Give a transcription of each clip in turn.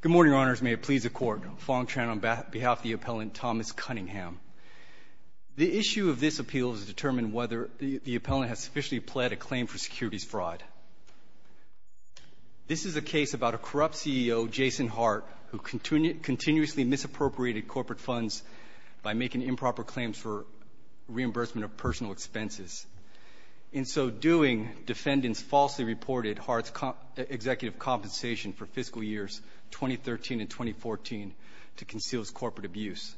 Good morning, Your Honors. May it please the Court. Fong Tran on behalf of the appellant Thomas Cunningham. The issue of this appeal is to determine whether the appellant has sufficiently pled a claim for securities fraud. This is a case about a corrupt CEO, Jason Hart, who continuously misappropriated corporate funds by making improper claims for reimbursement of personal expenses. In so doing, defendants falsely reported Hart's executive compensation for fiscal years 2013 and 2014 to conceal his corporate abuse.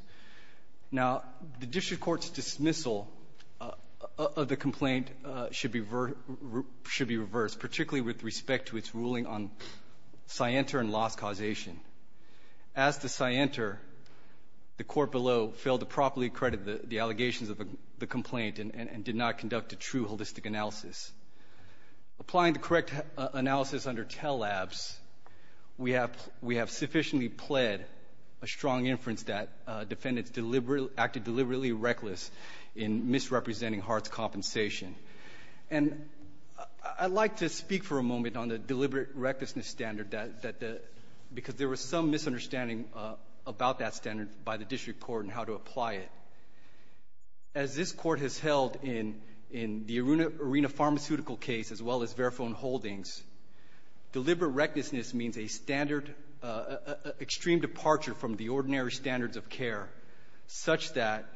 Now, the district court's dismissal of the complaint should be reversed, particularly with respect to its ruling on scienter and loss causation. As to scienter, the court below failed to properly credit the allegations of the complaint and did not conduct a true holistic analysis. Applying the correct analysis under TELL Labs, we have sufficiently pled a strong inference that defendants acted deliberately reckless in misrepresenting Hart's compensation. And I'd like to speak for a moment on the deliberate recklessness standard that the – because there was some misunderstanding about that standard by the district court and how to apply it. As this Court has held in the Aruna Pharmaceutical case as well as Verifone Holdings, deliberate recklessness means a standard extreme departure from the ordinary standards such that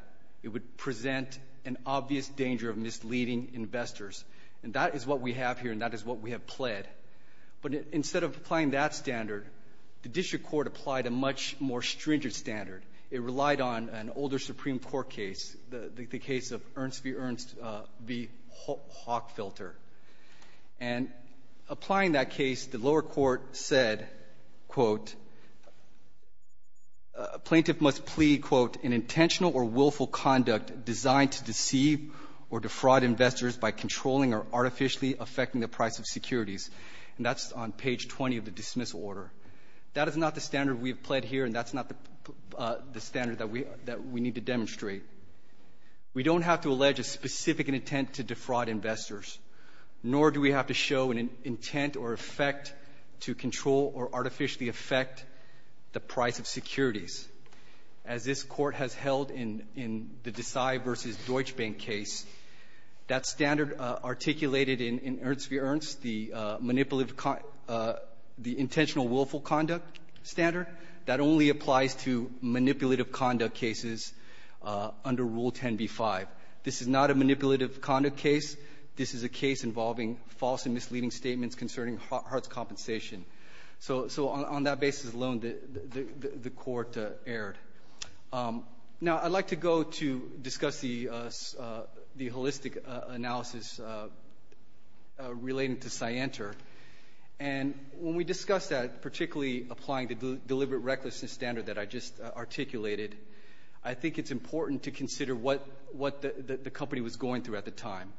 it would present an obvious danger of misleading investors. And that is what we have here, and that is what we have pled. But instead of applying that standard, the district court applied a much more stringent standard. It relied on an older Supreme Court case, the case of Ernst v. Hockfilter. And applying that case, the lower court said, quote, a plaintiff must plea, quote, an intentional or willful conduct designed to deceive or defraud investors by controlling or artificially affecting the price of securities. And that's on page 20 of the dismissal order. That is not the standard we have pled here, and that's not the standard that we need to demonstrate. We don't have to allege a specific intent to defraud investors, nor do we have to show an intent or effect to control or artificially affect the price of securities. As this Court has held in the Desai v. Deutsche Bank case, that standard articulated in Ernst v. Ernst, the manipulative the intentional willful conduct standard, that only applies to manipulative conduct cases under Rule 10b-5. This is not a manipulative conduct case. This is a case involving false and misleading statements concerning Hart's compensation. So on that basis alone, the Court erred. Now, I'd like to go to discuss the holistic analysis relating to Scienter. And when we discuss that, particularly applying the deliberate recklessness standard that I just articulated, I think it's important to consider what the company was going through at the time.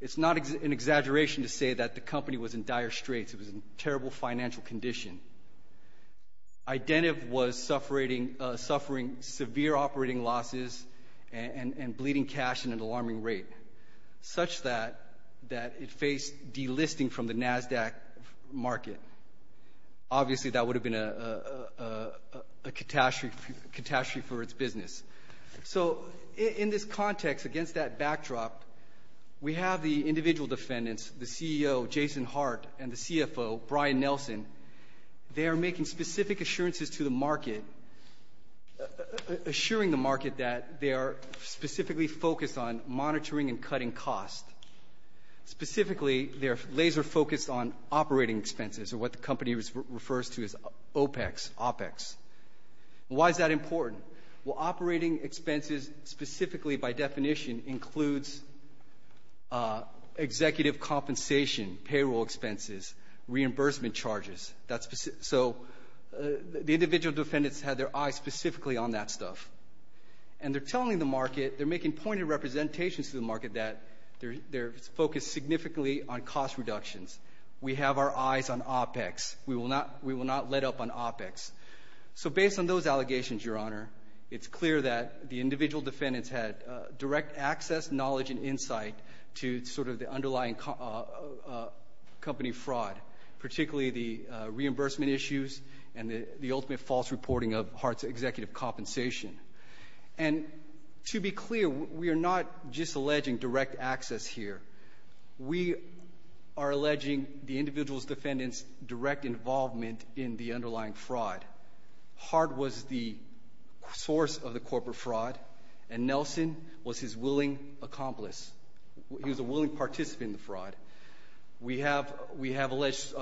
It's not an exaggeration to say that the company was in dire straits. It was in terrible financial condition. Identiv was suffering severe operating losses and bleeding cash at an alarming rate, such that it faced delisting from the NASDAQ market. Obviously, that would have been a catastrophe for its business. So in this context, against that backdrop, we have the individual defendants, the CEO, Jason Hart, and the CFO, Brian Nelson. They are making specific assurances to the market, assuring the market that they are specifically focused on monitoring and cutting costs. Specifically, they're laser-focused on operating expenses, or what the company refers to as OPEX, OPEX. Why is that important? Well, operating expenses specifically by definition includes executive compensation, payroll expenses, reimbursement charges. So the individual defendants had their eyes specifically on that stuff. And they're telling the market, they're making pointed representations to the market that they're focused significantly on cost reductions. We have our eyes on OPEX. We will not let up on OPEX. So based on those allegations, Your Honor, it's clear that the individual defendants had direct access, knowledge, and insight to sort of the underlying company fraud, particularly the reimbursement issues and the ultimate false reporting of Hart's executive compensation. And to be clear, we are not just alleging direct access here. We are alleging the individual defendants' direct involvement in the underlying fraud. Hart was the source of the corporate fraud, and Nelson was his willing accomplice. He was a willing participant in the fraud. We have alleged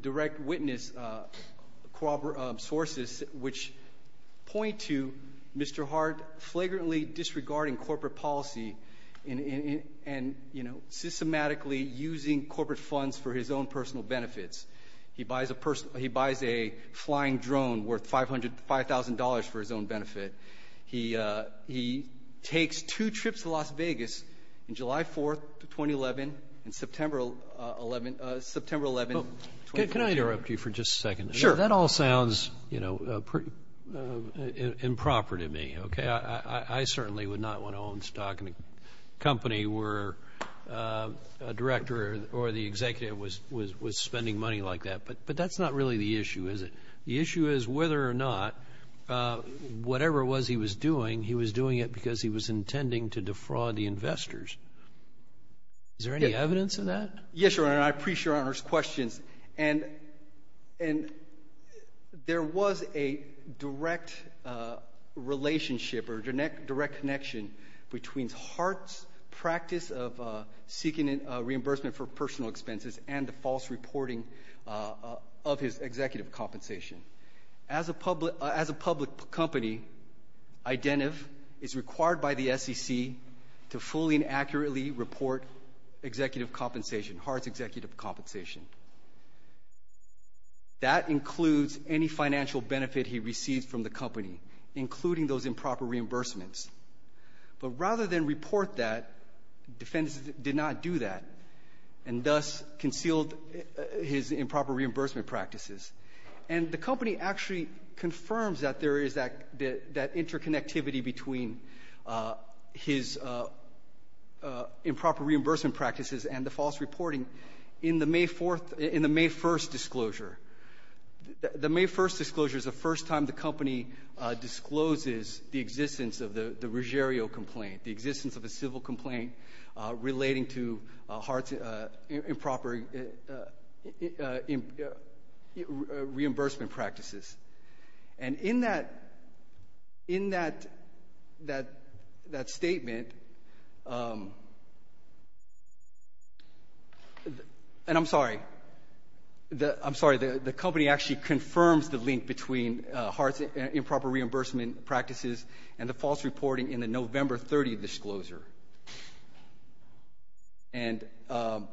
direct witness sources which point to Mr. Hart flagrantly disregarding corporate funds for his own personal benefits. He buys a flying drone worth $5,000 for his own benefit. He takes two trips to Las Vegas on July 4th, 2011, and September 11th, 2011. Can I interrupt you for just a second? Sure. That all sounds, you know, improper to me, okay? I certainly would not want to own company where a director or the executive was spending money like that. But that's not really the issue, is it? The issue is whether or not whatever it was he was doing, he was doing it because he was intending to defraud the investors. Is there any evidence of that? Yes, Your Honor, and I appreciate Your Honor's questions. And there was a direct relationship or direct connection between Hart's practice of seeking reimbursement for personal expenses and the false reporting of his executive compensation. As a public company, Identiv is required by the SEC to fully and accurately report executive compensation, Hart's executive compensation. That includes any financial benefit he receives from the company, including those improper reimbursements. But rather than report that, defendants did not do that and thus concealed his improper reimbursement practices. And the company actually confirms that there is that interconnectivity between his improper reimbursement practices and the false reporting in the May 4th — the May 1st disclosure is the first time the company discloses the existence of the Ruggiero complaint, the existence of a civil complaint relating to Hart's improper reimbursement practices. And in that — in that statement — and I'm sorry. I'm sorry. The company actually confirms the link between Hart's improper reimbursement practices and the false reporting in the November 30th disclosure. And I'm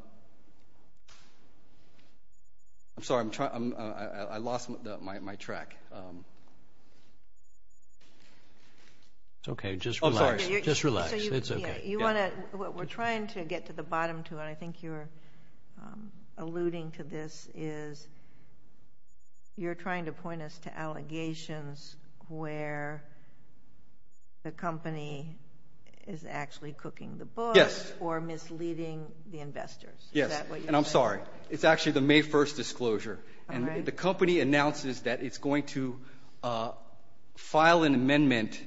sorry. I'm trying — I lost my track. It's okay. Just relax. Just relax. It's okay. You want to — we're trying to get to the bottom to it. I think you're alluding to this is you're trying to point us to allegations where the company is actually cooking the books or misleading the investors. Is that what you're saying? Yes. And I'm sorry. It's actually the May 1st disclosure. All right. The company announces that it's going to file an amendment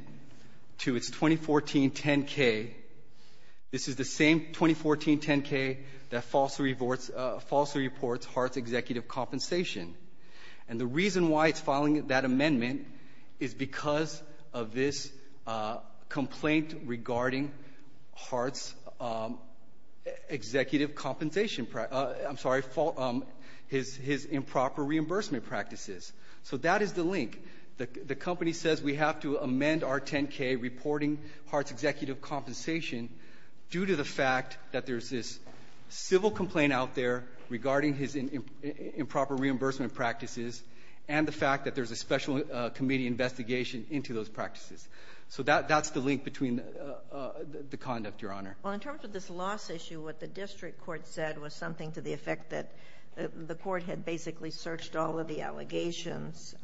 to its 2014 10-K. This is the same 2014 10-K that falsely reports Hart's executive compensation. And the reason why it's filing that amendment is because of this complaint regarding Hart's executive compensation — I'm sorry, his improper reimbursement practices. So that is the link. The company says we have to amend our 10-K reporting Hart's executive compensation due to the fact that there's this civil complaint out there regarding his improper reimbursement practices and the fact that there's a special committee investigation into those practices. So that's the link between the conduct, Your Honor. Well, in terms of this loss issue, what the district court said was something to the effect that the court had basically searched all of the allegations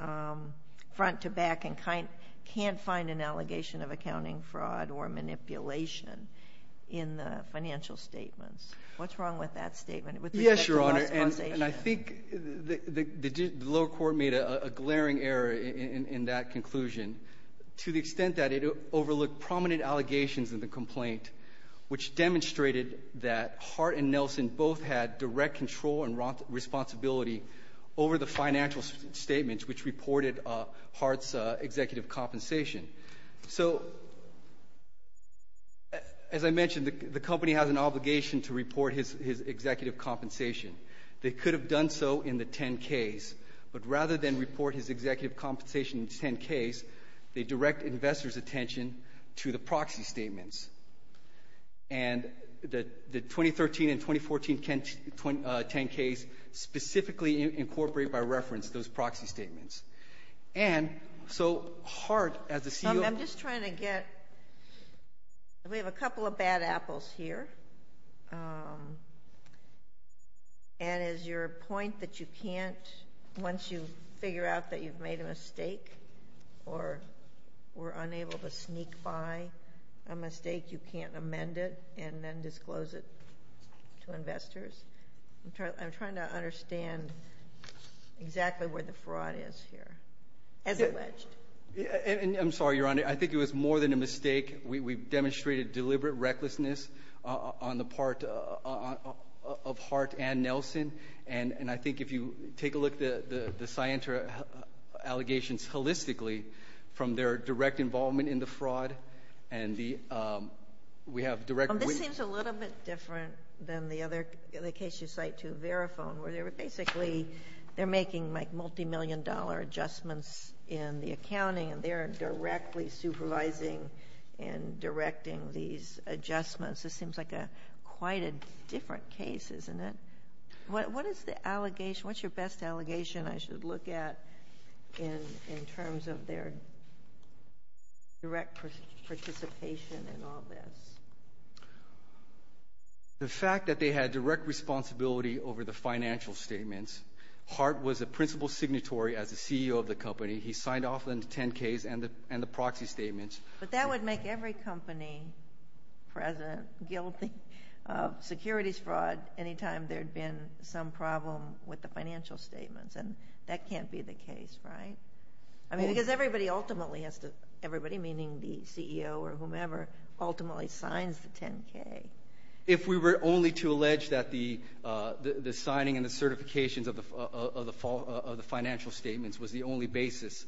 front to back and can't find an allegation of accounting fraud or manipulation in the financial statements. What's wrong with that statement with respect to loss causation? Yes, Your Honor, and I think the lower court made a glaring error in that conclusion to the extent that it overlooked prominent allegations in the complaint, which demonstrated that Hart and Nelson both had direct control and responsibility over the financial statements which reported Hart's executive compensation. So as I mentioned, the company has an obligation to report his executive compensation. They could have done so in the 10-Ks. But rather than report his executive compensation in the 10-Ks, they direct investors' attention to the proxy statements. And the 2013 and 2014 10-Ks specifically incorporate by reference those proxy statements. And so Hart, as the CEO of the company ---- I'm just trying to get ---- we have a couple of bad apples here. And is your point that you can't, once you figure out that you've made a mistake or were unable to sneak by a mistake, you can't amend it and then disclose it to investors? I'm trying to understand exactly where the fraud is here, as alleged. I'm sorry, Your Honor. I think it was more than a mistake. We've demonstrated deliberate recklessness on the part of Hart and Nelson. And I think if you take a look at the scienter allegations holistically from their direct involvement in the fraud and the ---- This seems a little bit different than the case you cite to Verifone, where they were basically making multimillion-dollar adjustments in the accounting and they're directly supervising and directing these adjustments. This seems like quite a different case, isn't it? What is the allegation? What's your best allegation I should look at in terms of their direct participation in all this? The fact that they had direct responsibility over the financial statements. Hart was a principal signatory as the CEO of the company. He signed off on the 10-Ks and the proxy statements. But that would make every company present guilty of securities fraud anytime there had been some problem with the financial statements, and that can't be the case, right? I mean, because everybody ultimately has to ---- everybody, meaning the CEO or whomever, ultimately signs the 10-K. If we were only to allege that the signing and the certifications of the financial statements was the only basis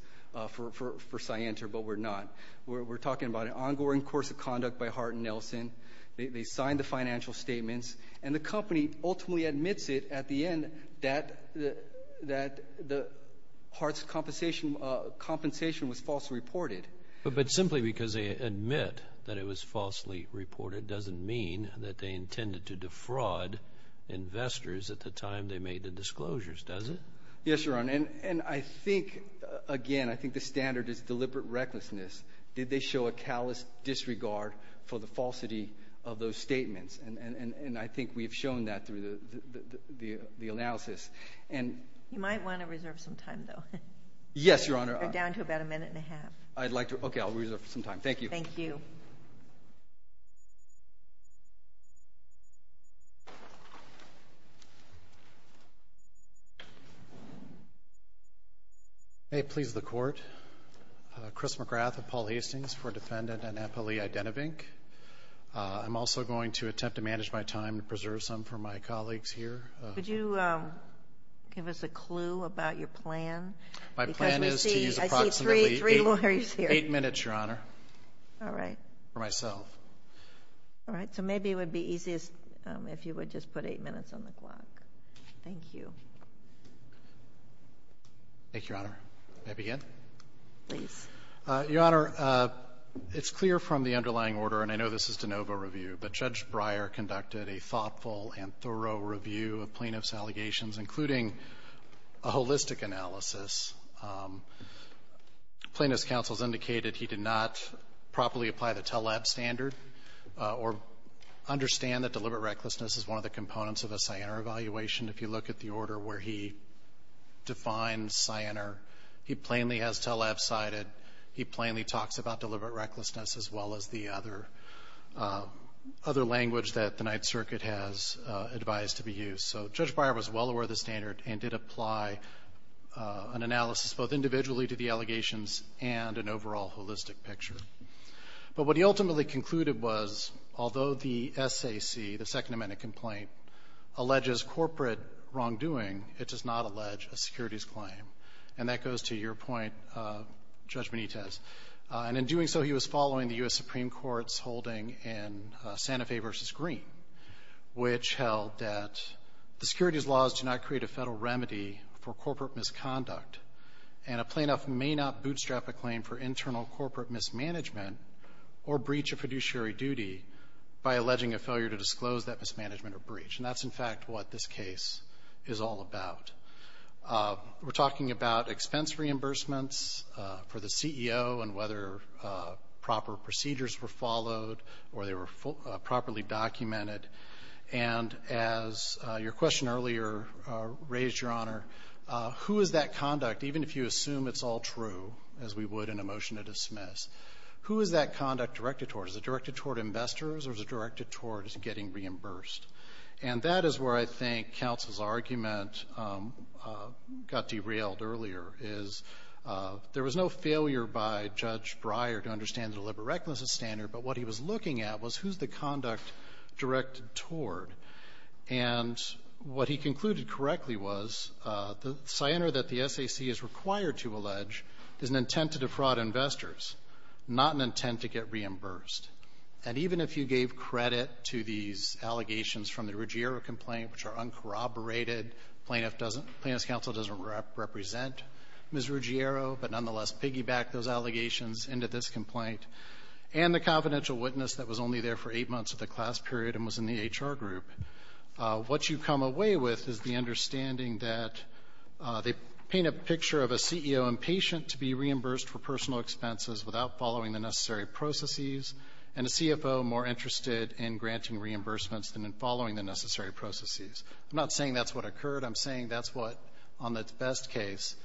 for scienter, but we're not. We're talking about an ongoing course of conduct by Hart and Nelson. They signed the financial statements. And the company ultimately admits it at the end that Hart's compensation was falsely reported. But simply because they admit that it was falsely reported doesn't mean that they intended to defraud investors at the time they made the disclosures, does it? Yes, Your Honor. And I think, again, I think the standard is deliberate recklessness. Did they show a callous disregard for the falsity of those statements? And I think we've shown that through the analysis. You might want to reserve some time, though. Yes, Your Honor. You're down to about a minute and a half. I'd like to. Okay, I'll reserve some time. Thank you. Thank you. May it please the Court. Chris McGrath and Paul Hastings for Defendant Annapoli Idenovink. I'm also going to attempt to manage my time to preserve some for my colleagues here. Could you give us a clue about your plan? My plan is to use approximately eight minutes, Your Honor, for myself. All right, so maybe it would be easiest if you would just put eight minutes on the clock. Thank you. Thank you, Your Honor. May I begin? Please. Your Honor, it's clear from the underlying order, and I know this is de novo review, but Judge Breyer conducted a thoughtful and thorough review of plaintiff's allegations, including a holistic analysis. Plaintiff's counsel has indicated he did not properly apply the TELAB standard or understand that deliberate recklessness is one of the components of a Sienner evaluation. If you look at the order where he defines Sienner, he plainly has TELAB cited. He plainly talks about deliberate recklessness, as well as the other language that the Ninth Circuit has advised to be used. So Judge Breyer was well aware of the standard and did apply an analysis both individually to the allegations and an overall holistic picture. But what he ultimately concluded was, although the SAC, the Second Amendment complaint, alleges corporate wrongdoing, it does not allege a securities claim. And that goes to your point, Judge Benitez. And in doing so, he was following the U.S. Supreme Court's holding in Santa Fe v. Green, which held that the securities laws do not create a Federal remedy for corporate misconduct, and a plaintiff may not bootstrap a claim for internal corporate mismanagement or breach of fiduciary duty by alleging a failure to disclose that mismanagement or breach. And that's, in fact, what this case is all about. We're talking about expense reimbursements for the CEO and whether proper procedures were followed or they were properly documented. And as your question earlier raised, Your Honor, who is that conduct, even if you assume it's all true, as we would in a motion to dismiss, who is that conduct directed toward? Is it directed toward investors or is it directed toward getting reimbursed? And that is where I think counsel's argument got derailed earlier, is there was no failure by Judge Breyer to understand the deliberate recklessness standard, but what he was looking at was who's the conduct directed toward. And what he concluded correctly was the scioner that the SAC is required to allege is an intent to defraud investors, not an intent to get reimbursed. And even if you gave credit to these allegations from the Ruggiero complaint, which are uncorroborated, plaintiff doesn't — plaintiff's counsel doesn't represent Ms. Ruggiero, but nonetheless piggybacked those allegations into this complaint, and the confidential witness that was only there for eight months of the class period and was in the HR group, what you come away with is the understanding that they paint a picture of a CEO impatient to be reimbursed for personal expenses without following the necessary processes and a CFO more interested in granting reimbursements than in following the necessary processes. I'm not saying that's what occurred. I'm saying that's what, on the best case,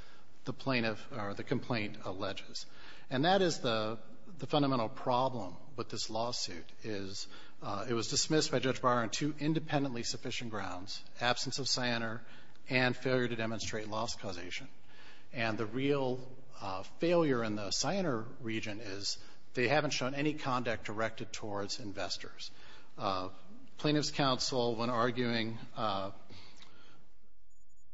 the plaintiff or the complaint alleges. And that is the fundamental problem with this lawsuit, is it was dismissed by Judge Breyer on two independently sufficient grounds, absence of scioner and failure to demonstrate loss causation. And the real failure in the scioner region is they haven't shown any conduct directed towards investors. Plaintiff's counsel, when arguing,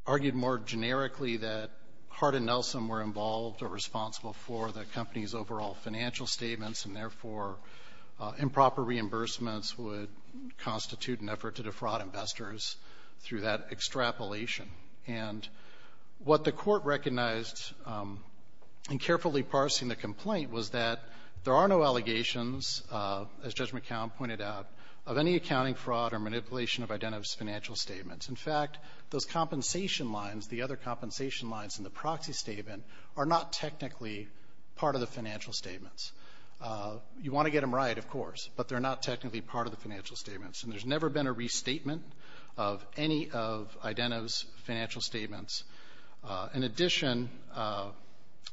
argued more generically that Hart and Nelson were involved or responsible for the company's overall financial statements, and therefore improper reimbursements would constitute an effort to defraud investors through that extrapolation. And what the Court recognized in carefully parsing the complaint was that there are no allegations, as Judge McCown pointed out, of any accounting fraud or manipulation of Identiv's financial statements. In fact, those compensation lines, the other compensation lines in the proxy statement, are not technically part of the financial statements. You want to get them right, of course, but they're not technically part of the financial statements. And there's never been a restatement of any of Identiv's financial statements. In addition,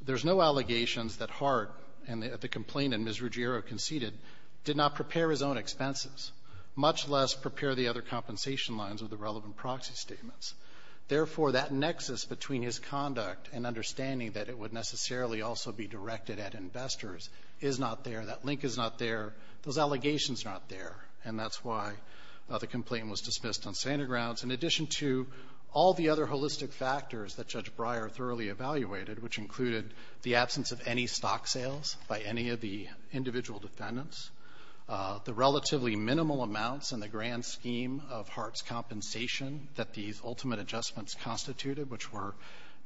there's no allegations that Hart and the complainant, Ms. Ruggiero, conceded did not prepare his own expenses, much less prepare the other compensation lines of the relevant proxy statements. Therefore, that nexus between his conduct and understanding that it would necessarily also be directed at investors is not there. That link is not there. Those allegations are not there. And that's why the complaint was dismissed on to all the other holistic factors that Judge Breyer thoroughly evaluated, which included the absence of any stock sales by any of the individual defendants, the relatively minimal amounts in the grand scheme of Hart's compensation that these ultimate adjustments constituted, which were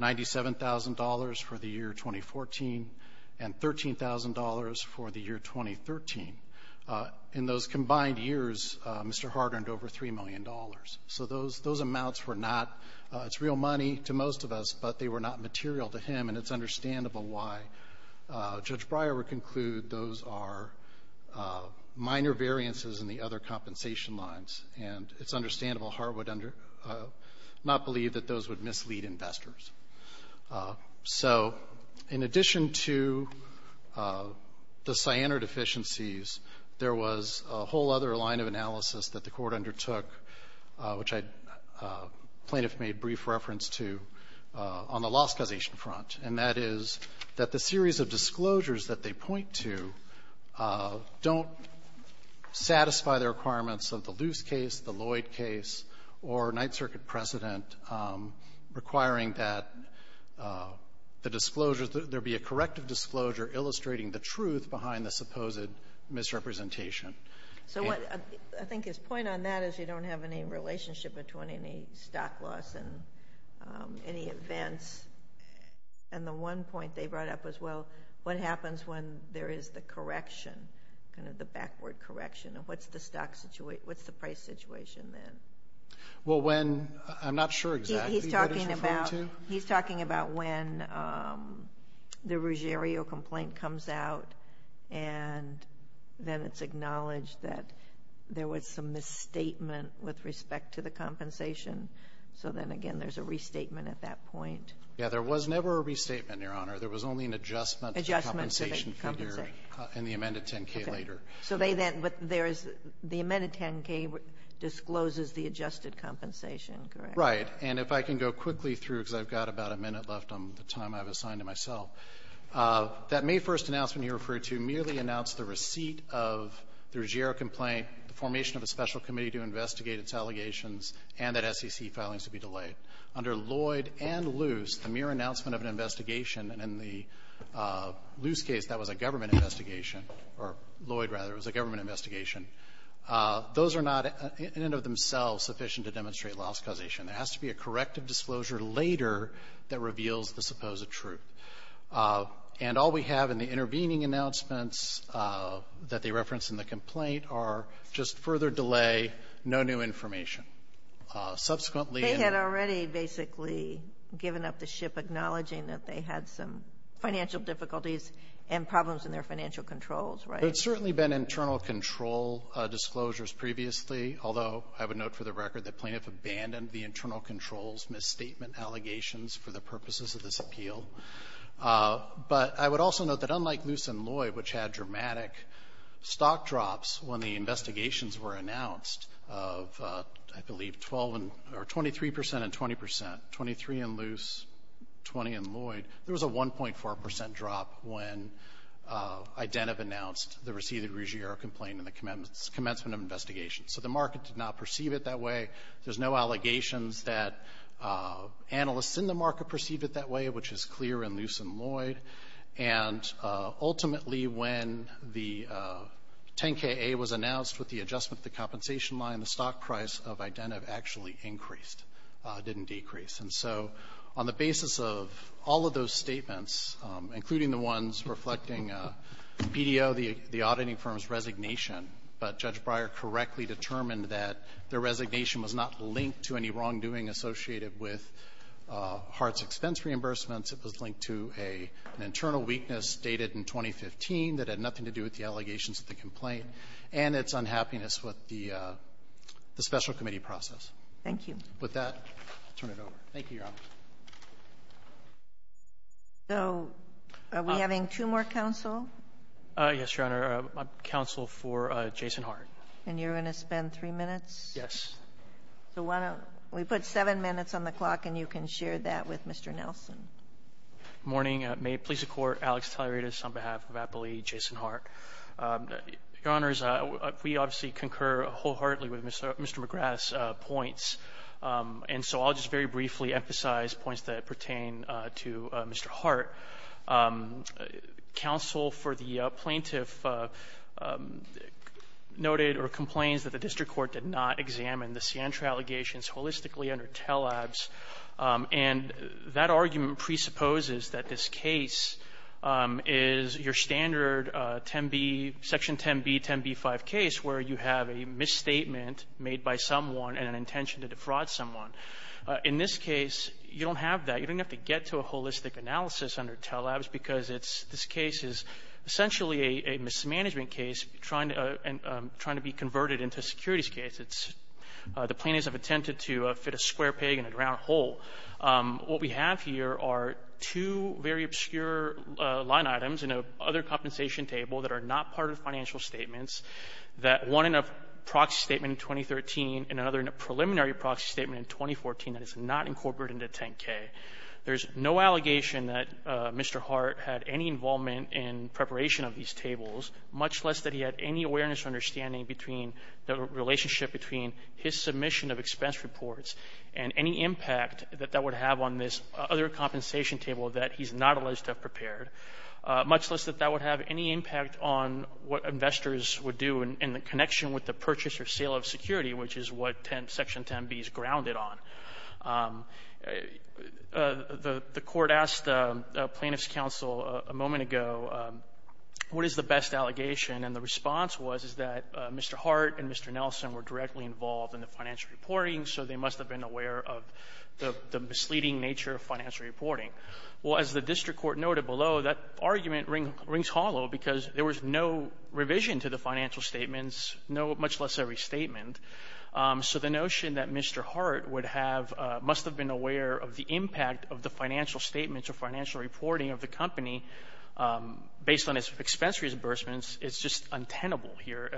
$97,000 for the year 2014 and $13,000 for the year 2015. So those amounts were not real money to most of us, but they were not material to him. And it's understandable why Judge Breyer would conclude those are minor variances in the other compensation lines. And it's understandable Hart would not believe that those would mislead investors. So in addition to the cyanide deficiencies, there was a whole other line of analysis that the Court undertook, which I plaintiff made brief reference to, on the lost causation front, and that is that the series of disclosures that they point to don't satisfy the requirements of the Luce case, the Lloyd case, or Ninth Circuit precedent requiring that the disclosures that there be a corrective disclosure illustrating the truth behind the supposed misrepresentation. So I think his point on that is you don't have any relationship between any stock loss and any events. And the one point they brought up was, well, what happens when there is the correction, kind of the backward correction, and what's the stock situation, what's the price situation then? Well, when, I'm not sure exactly what he's referring to. He's talking about when the Ruggiero complaint comes out, and then it's acknowledged that there was some misstatement with respect to the compensation. So then, again, there's a restatement at that point. Yeah. There was never a restatement, Your Honor. There was only an adjustment to the compensation figure. Adjustment to the compensation. In the amended 10-K later. Okay. So they then, but there is, the amended 10-K discloses the adjusted compensation, correct? Right. And if I can go quickly through, because I've got about a minute left on the time I've assigned to myself, that May 1st announcement he referred to merely announced the receipt of the Ruggiero complaint, the formation of a special committee to investigate its allegations, and that SEC filings to be delayed. Under Lloyd and Luce, the mere announcement of an investigation, and in the Luce case, that was a government authorization. There has to be a corrective disclosure later that reveals the supposed truth. And all we have in the intervening announcements that they reference in the complaint are just further delay, no new information. Subsequently they had already basically given up the ship, acknowledging that they had some financial difficulties and problems in their financial controls, right? There's certainly been internal control disclosures previously, although I would note for the record that Plaintiff abandoned the internal controls misstatement allegations for the purposes of this appeal. But I would also note that unlike Luce and Lloyd, which had dramatic stock drops when the investigations were announced of, I believe, 12 and or 23 percent and 20 percent, 23 in Luce, 20 in Lloyd, there was a 1.4 percent drop when Identiv announced the receipt of the Ruggiero complaint in the commencement of investigations. So the market did not perceive it that way. There's no allegations that analysts in the market perceived it that way, which is clear in Luce and Lloyd. And ultimately when the 10-K-A was announced with the adjustment of the compensation line, the stock price of Identiv actually increased, didn't decrease. And so on the basis of all of those statements, including the ones reflecting BDO, the auditing firm's resignation, but Judge Breyer correctly determined that their resignation was not linked to any wrongdoing associated with Hart's expense reimbursements. It was linked to an internal weakness stated in 2015 that had nothing to do with the allegations of the complaint and its unhappiness with the special committee process. Thank you. With that, I'll turn it over. Thank you, Your Honor. So are we having two more counsel? Yes, Your Honor. I'm counsel for Jason Hart. And you're going to spend three minutes? Yes. So why don't we put seven minutes on the clock and you can share that with Mr. Nelson. Good morning. May it please the Court. Alex Talerides on behalf of Appley, Jason Hart. Your Honors, we obviously concur wholeheartedly with Mr. McGrath's points. And so I'll just very briefly emphasize points that pertain to Mr. Hart. Counsel for the plaintiff noted or complains that the district court did not examine the Sientra allegations holistically under Tellabs. And that argument presupposes that this case is your standard 10b, Section 10b, 10b5 case, where you have a misstatement made by someone and an intention to disqualify and defraud someone. In this case, you don't have that. You don't have to get to a holistic analysis under Tellabs because it's this case is essentially a mismanagement case trying to be converted into a securities case. It's the plaintiffs have attempted to fit a square peg in a ground hole. What we have here are two very obscure line items in a other compensation table that are not part of financial statements, that one in a proxy statement in 2013 and another in a preliminary proxy statement in 2014 that is not incorporated into 10k. There's no allegation that Mr. Hart had any involvement in preparation of these tables, much less that he had any awareness or understanding between the relationship between his submission of expense reports and any impact that that would have on this other compensation table that he's not alleged to have prepared, much less that that would have any impact on what investors would do in the connection with the purchase or sale of security, which is what section 10b is grounded on. The Court asked the Plaintiffs' Counsel a moment ago, what is the best allegation? And the response was, is that Mr. Hart and Mr. Nelson were directly involved in the financial reporting, so they must have been aware of the misleading nature of financial reporting. Well, as the district court noted below, that argument rings hollow because there was no revision to the financial statements, no much less every statement. So the notion that Mr. Hart would have been aware of the impact of the financial statements or financial reporting of the company based on its expensory reimbursements is just untenable here.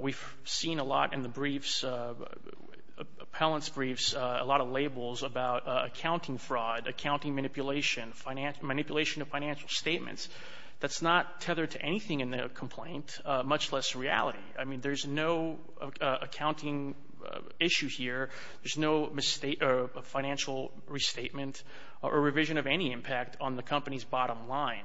We've seen a lot in the briefs, appellant's briefs, a lot of labels about accounting fraud, accounting manipulation, manipulation of financial statements. That's not tethered to anything in the complaint, much less reality. I mean, there's no accounting issue here. There's no mistake or financial restatement or revision of any impact on the company's bottom line.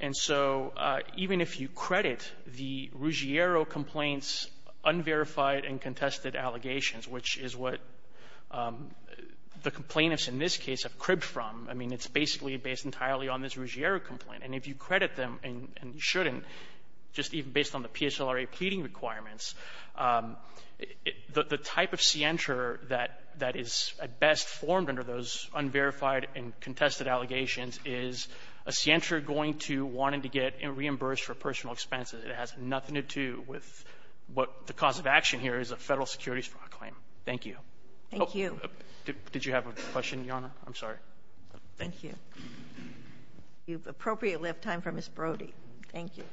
And so even if you credit the Ruggiero complaints' unverified and contested allegations, which is what the complainants in this case have cribbed from, I mean, it's basically based entirely on this Ruggiero complaint. And if you credit them and shouldn't, just even based on the PSLRA pleading requirements, the type of scienter that is at best formed under those unverified and contested allegations is a scienter going to wanting to get reimbursed for personal expenses. It has nothing to do with what the cause of action here is, a Federal securities fraud claim. Thank you. Oh, did you have a question, Your Honor? I'm sorry. Thank you. If you appropriately have time for Ms. Brody. Thank you.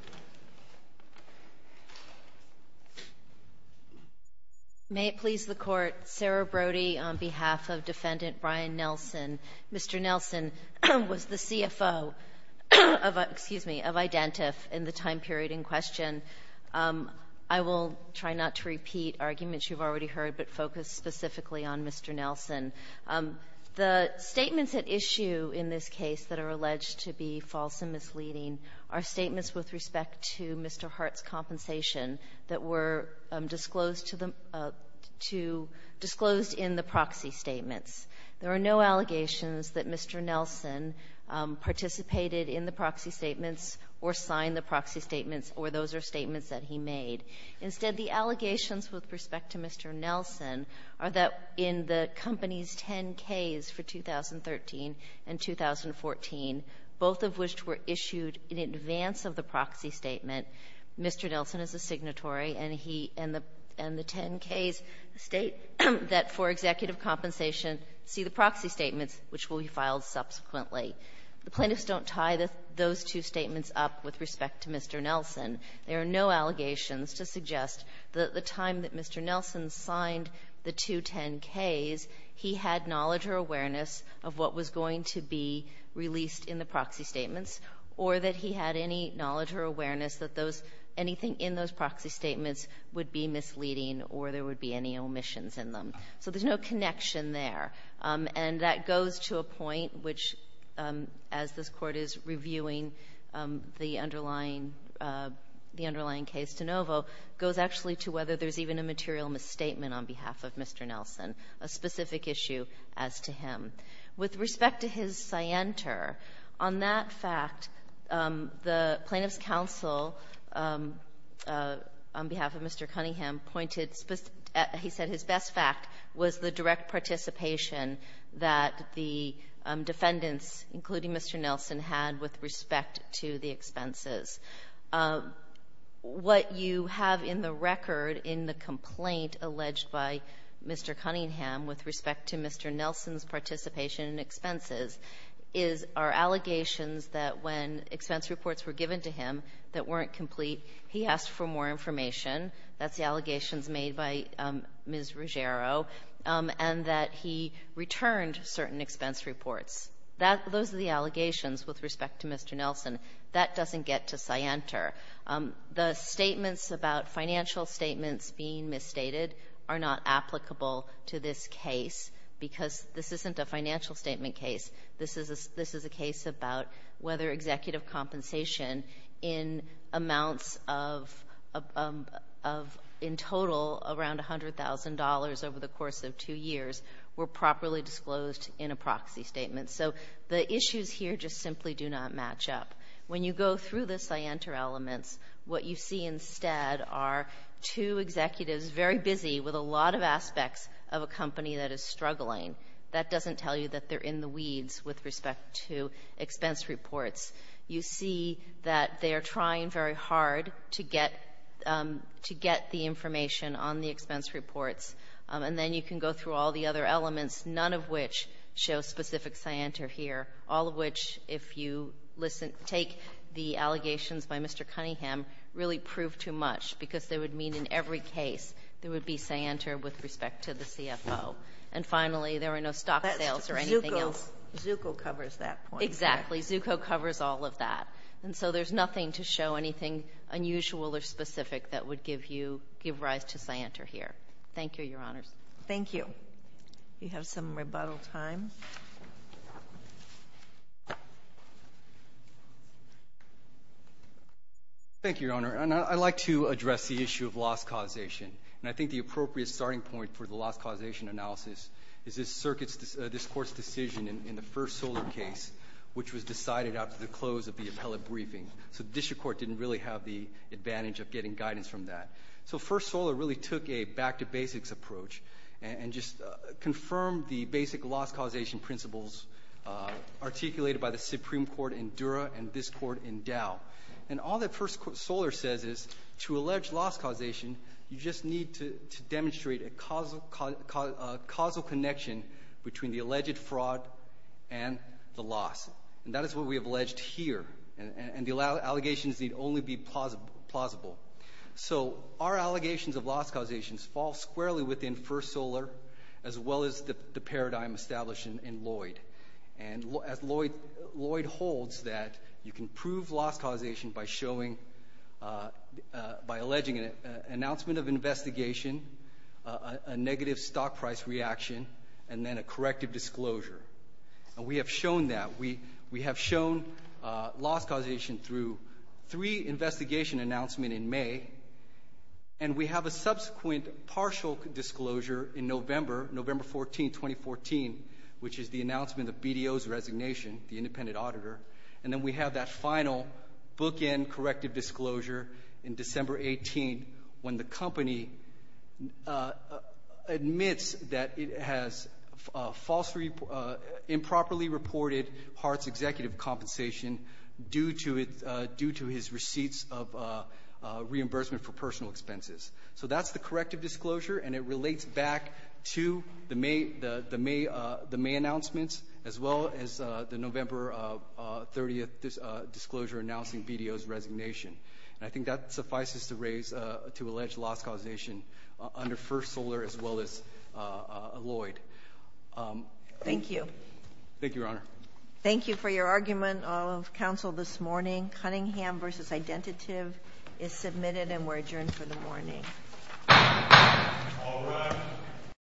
May it please the Court, Sarah Brody on behalf of Defendant Brian Nelson. Mr. Nelson was the CFO of the --- excuse me, of Identif in the time period in question. I will try not to repeat arguments you've already heard, but focus specifically on Mr. Nelson. The statements at issue in this case that are alleged to be false and misleading are statements with respect to Mr. Hart's compensation that were disclosed to the to the --- disclosed in the proxy statements. There are no allegations that Mr. Nelson participated in the proxy statements or signed the proxy statements, or those are statements that he made. Instead, the allegations with respect to Mr. Nelson are that in the company's 10-Ks for 2013 and 2014, both of which were issued in advance of the proxy statement, Mr. Nelson is a signatory, and he and the 10-Ks state that for executive compensation, see the proxy statements, which will be filed subsequently. The plaintiffs don't tie those two statements up with respect to Mr. Nelson. There are no allegations to suggest that at the time that Mr. Nelson signed the two 10-Ks, he had knowledge or awareness of what was going to be released in the proxy statements, or that he had any knowledge or awareness that those -- anything in those proxy statements would be misleading or there would be any omissions in them. So there's no connection there. And that goes to a point which, as this Court is reviewing the underlying case de novo, goes actually to whether there's even a material misstatement on behalf of Mr. Nelson, a specific issue as to him. With respect to his scienter, on that fact, the Plaintiffs' Counsel, on behalf of Mr. Cunningham, pointed, he said his best fact was the direct participation that the defendants, including Mr. Nelson, had with respect to the expenses. What you have in the record in the complaint alleged by Mr. Cunningham with respect to Mr. Nelson's participation in expenses is our allegations that when expense reported, that's the allegations made by Ms. Ruggiero, and that he returned certain expense reports. That those are the allegations with respect to Mr. Nelson. That doesn't get to scienter. The statements about financial statements being misstated are not applicable to this case because this isn't a financial statement case. This is a case about whether executive compensation in amounts of, in total, around $100,000 over the course of two years were properly disclosed in a proxy statement. So the issues here just simply do not match up. When you go through the scienter elements, what you see instead are two executives very busy with a lot of aspects of a company that is struggling. That doesn't tell you that they're in the weeds with respect to expense reports. You see that they are trying very hard to get, to get the information on the expense reports. And then you can go through all the other elements, none of which show specific scienter here, all of which, if you listen, take the allegations by Mr. Cunningham, really prove too much because they would mean in every case there would be scienter with respect to the CFO. And finally, there were no stock sales or anything else. Zucco covers that point. Exactly. Zucco covers all of that. And so there's nothing to show anything unusual or specific that would give you, give rise to scienter here. Thank you, Your Honors. Thank you. We have some rebuttal time. Thank you, Your Honor. And I'd like to address the issue of loss causation. And I think the appropriate starting point for the loss causation analysis is this Court's decision in the First Solar case, which was decided after the close of the appellate briefing. So the district court didn't really have the advantage of getting guidance from that. So First Solar really took a back-to-basics approach and just confirmed the basic loss causation principles articulated by the Supreme Court in Dura and this Court in Dow. And all that First Solar says is to allege loss causation, you just need to demonstrate a causal connection between the alleged fraud and the loss. And that is what we have alleged here. And the allegations need only be plausible. So our allegations of loss causation fall squarely within First Solar as well as the paradigm established in Lloyd. And as Lloyd holds that you can prove loss causation by showing, by alleging an announcement of investigation, a negative stock price reaction, and then a corrective disclosure. And we have shown that. We have shown loss causation through three investigation announcements in May. And we have a subsequent partial disclosure in November, November 14, 2014, which is the announcement of BDO's resignation, the independent auditor. And then we have that final bookend corrective disclosure in December 18, when the company admits that it has improperly reported Hart's executive compensation due to his receipts of reimbursement for personal expenses. So that's the corrective disclosure. And it relates back to the May announcements as well as the November 30th disclosure announcing BDO's resignation. And I think that suffices to raise, to allege loss causation under First Solar as well as Lloyd. Thank you. Thank you, Your Honor. Thank you for your argument of counsel this morning. Cunningham versus Identitive is submitted and we're adjourned for the morning.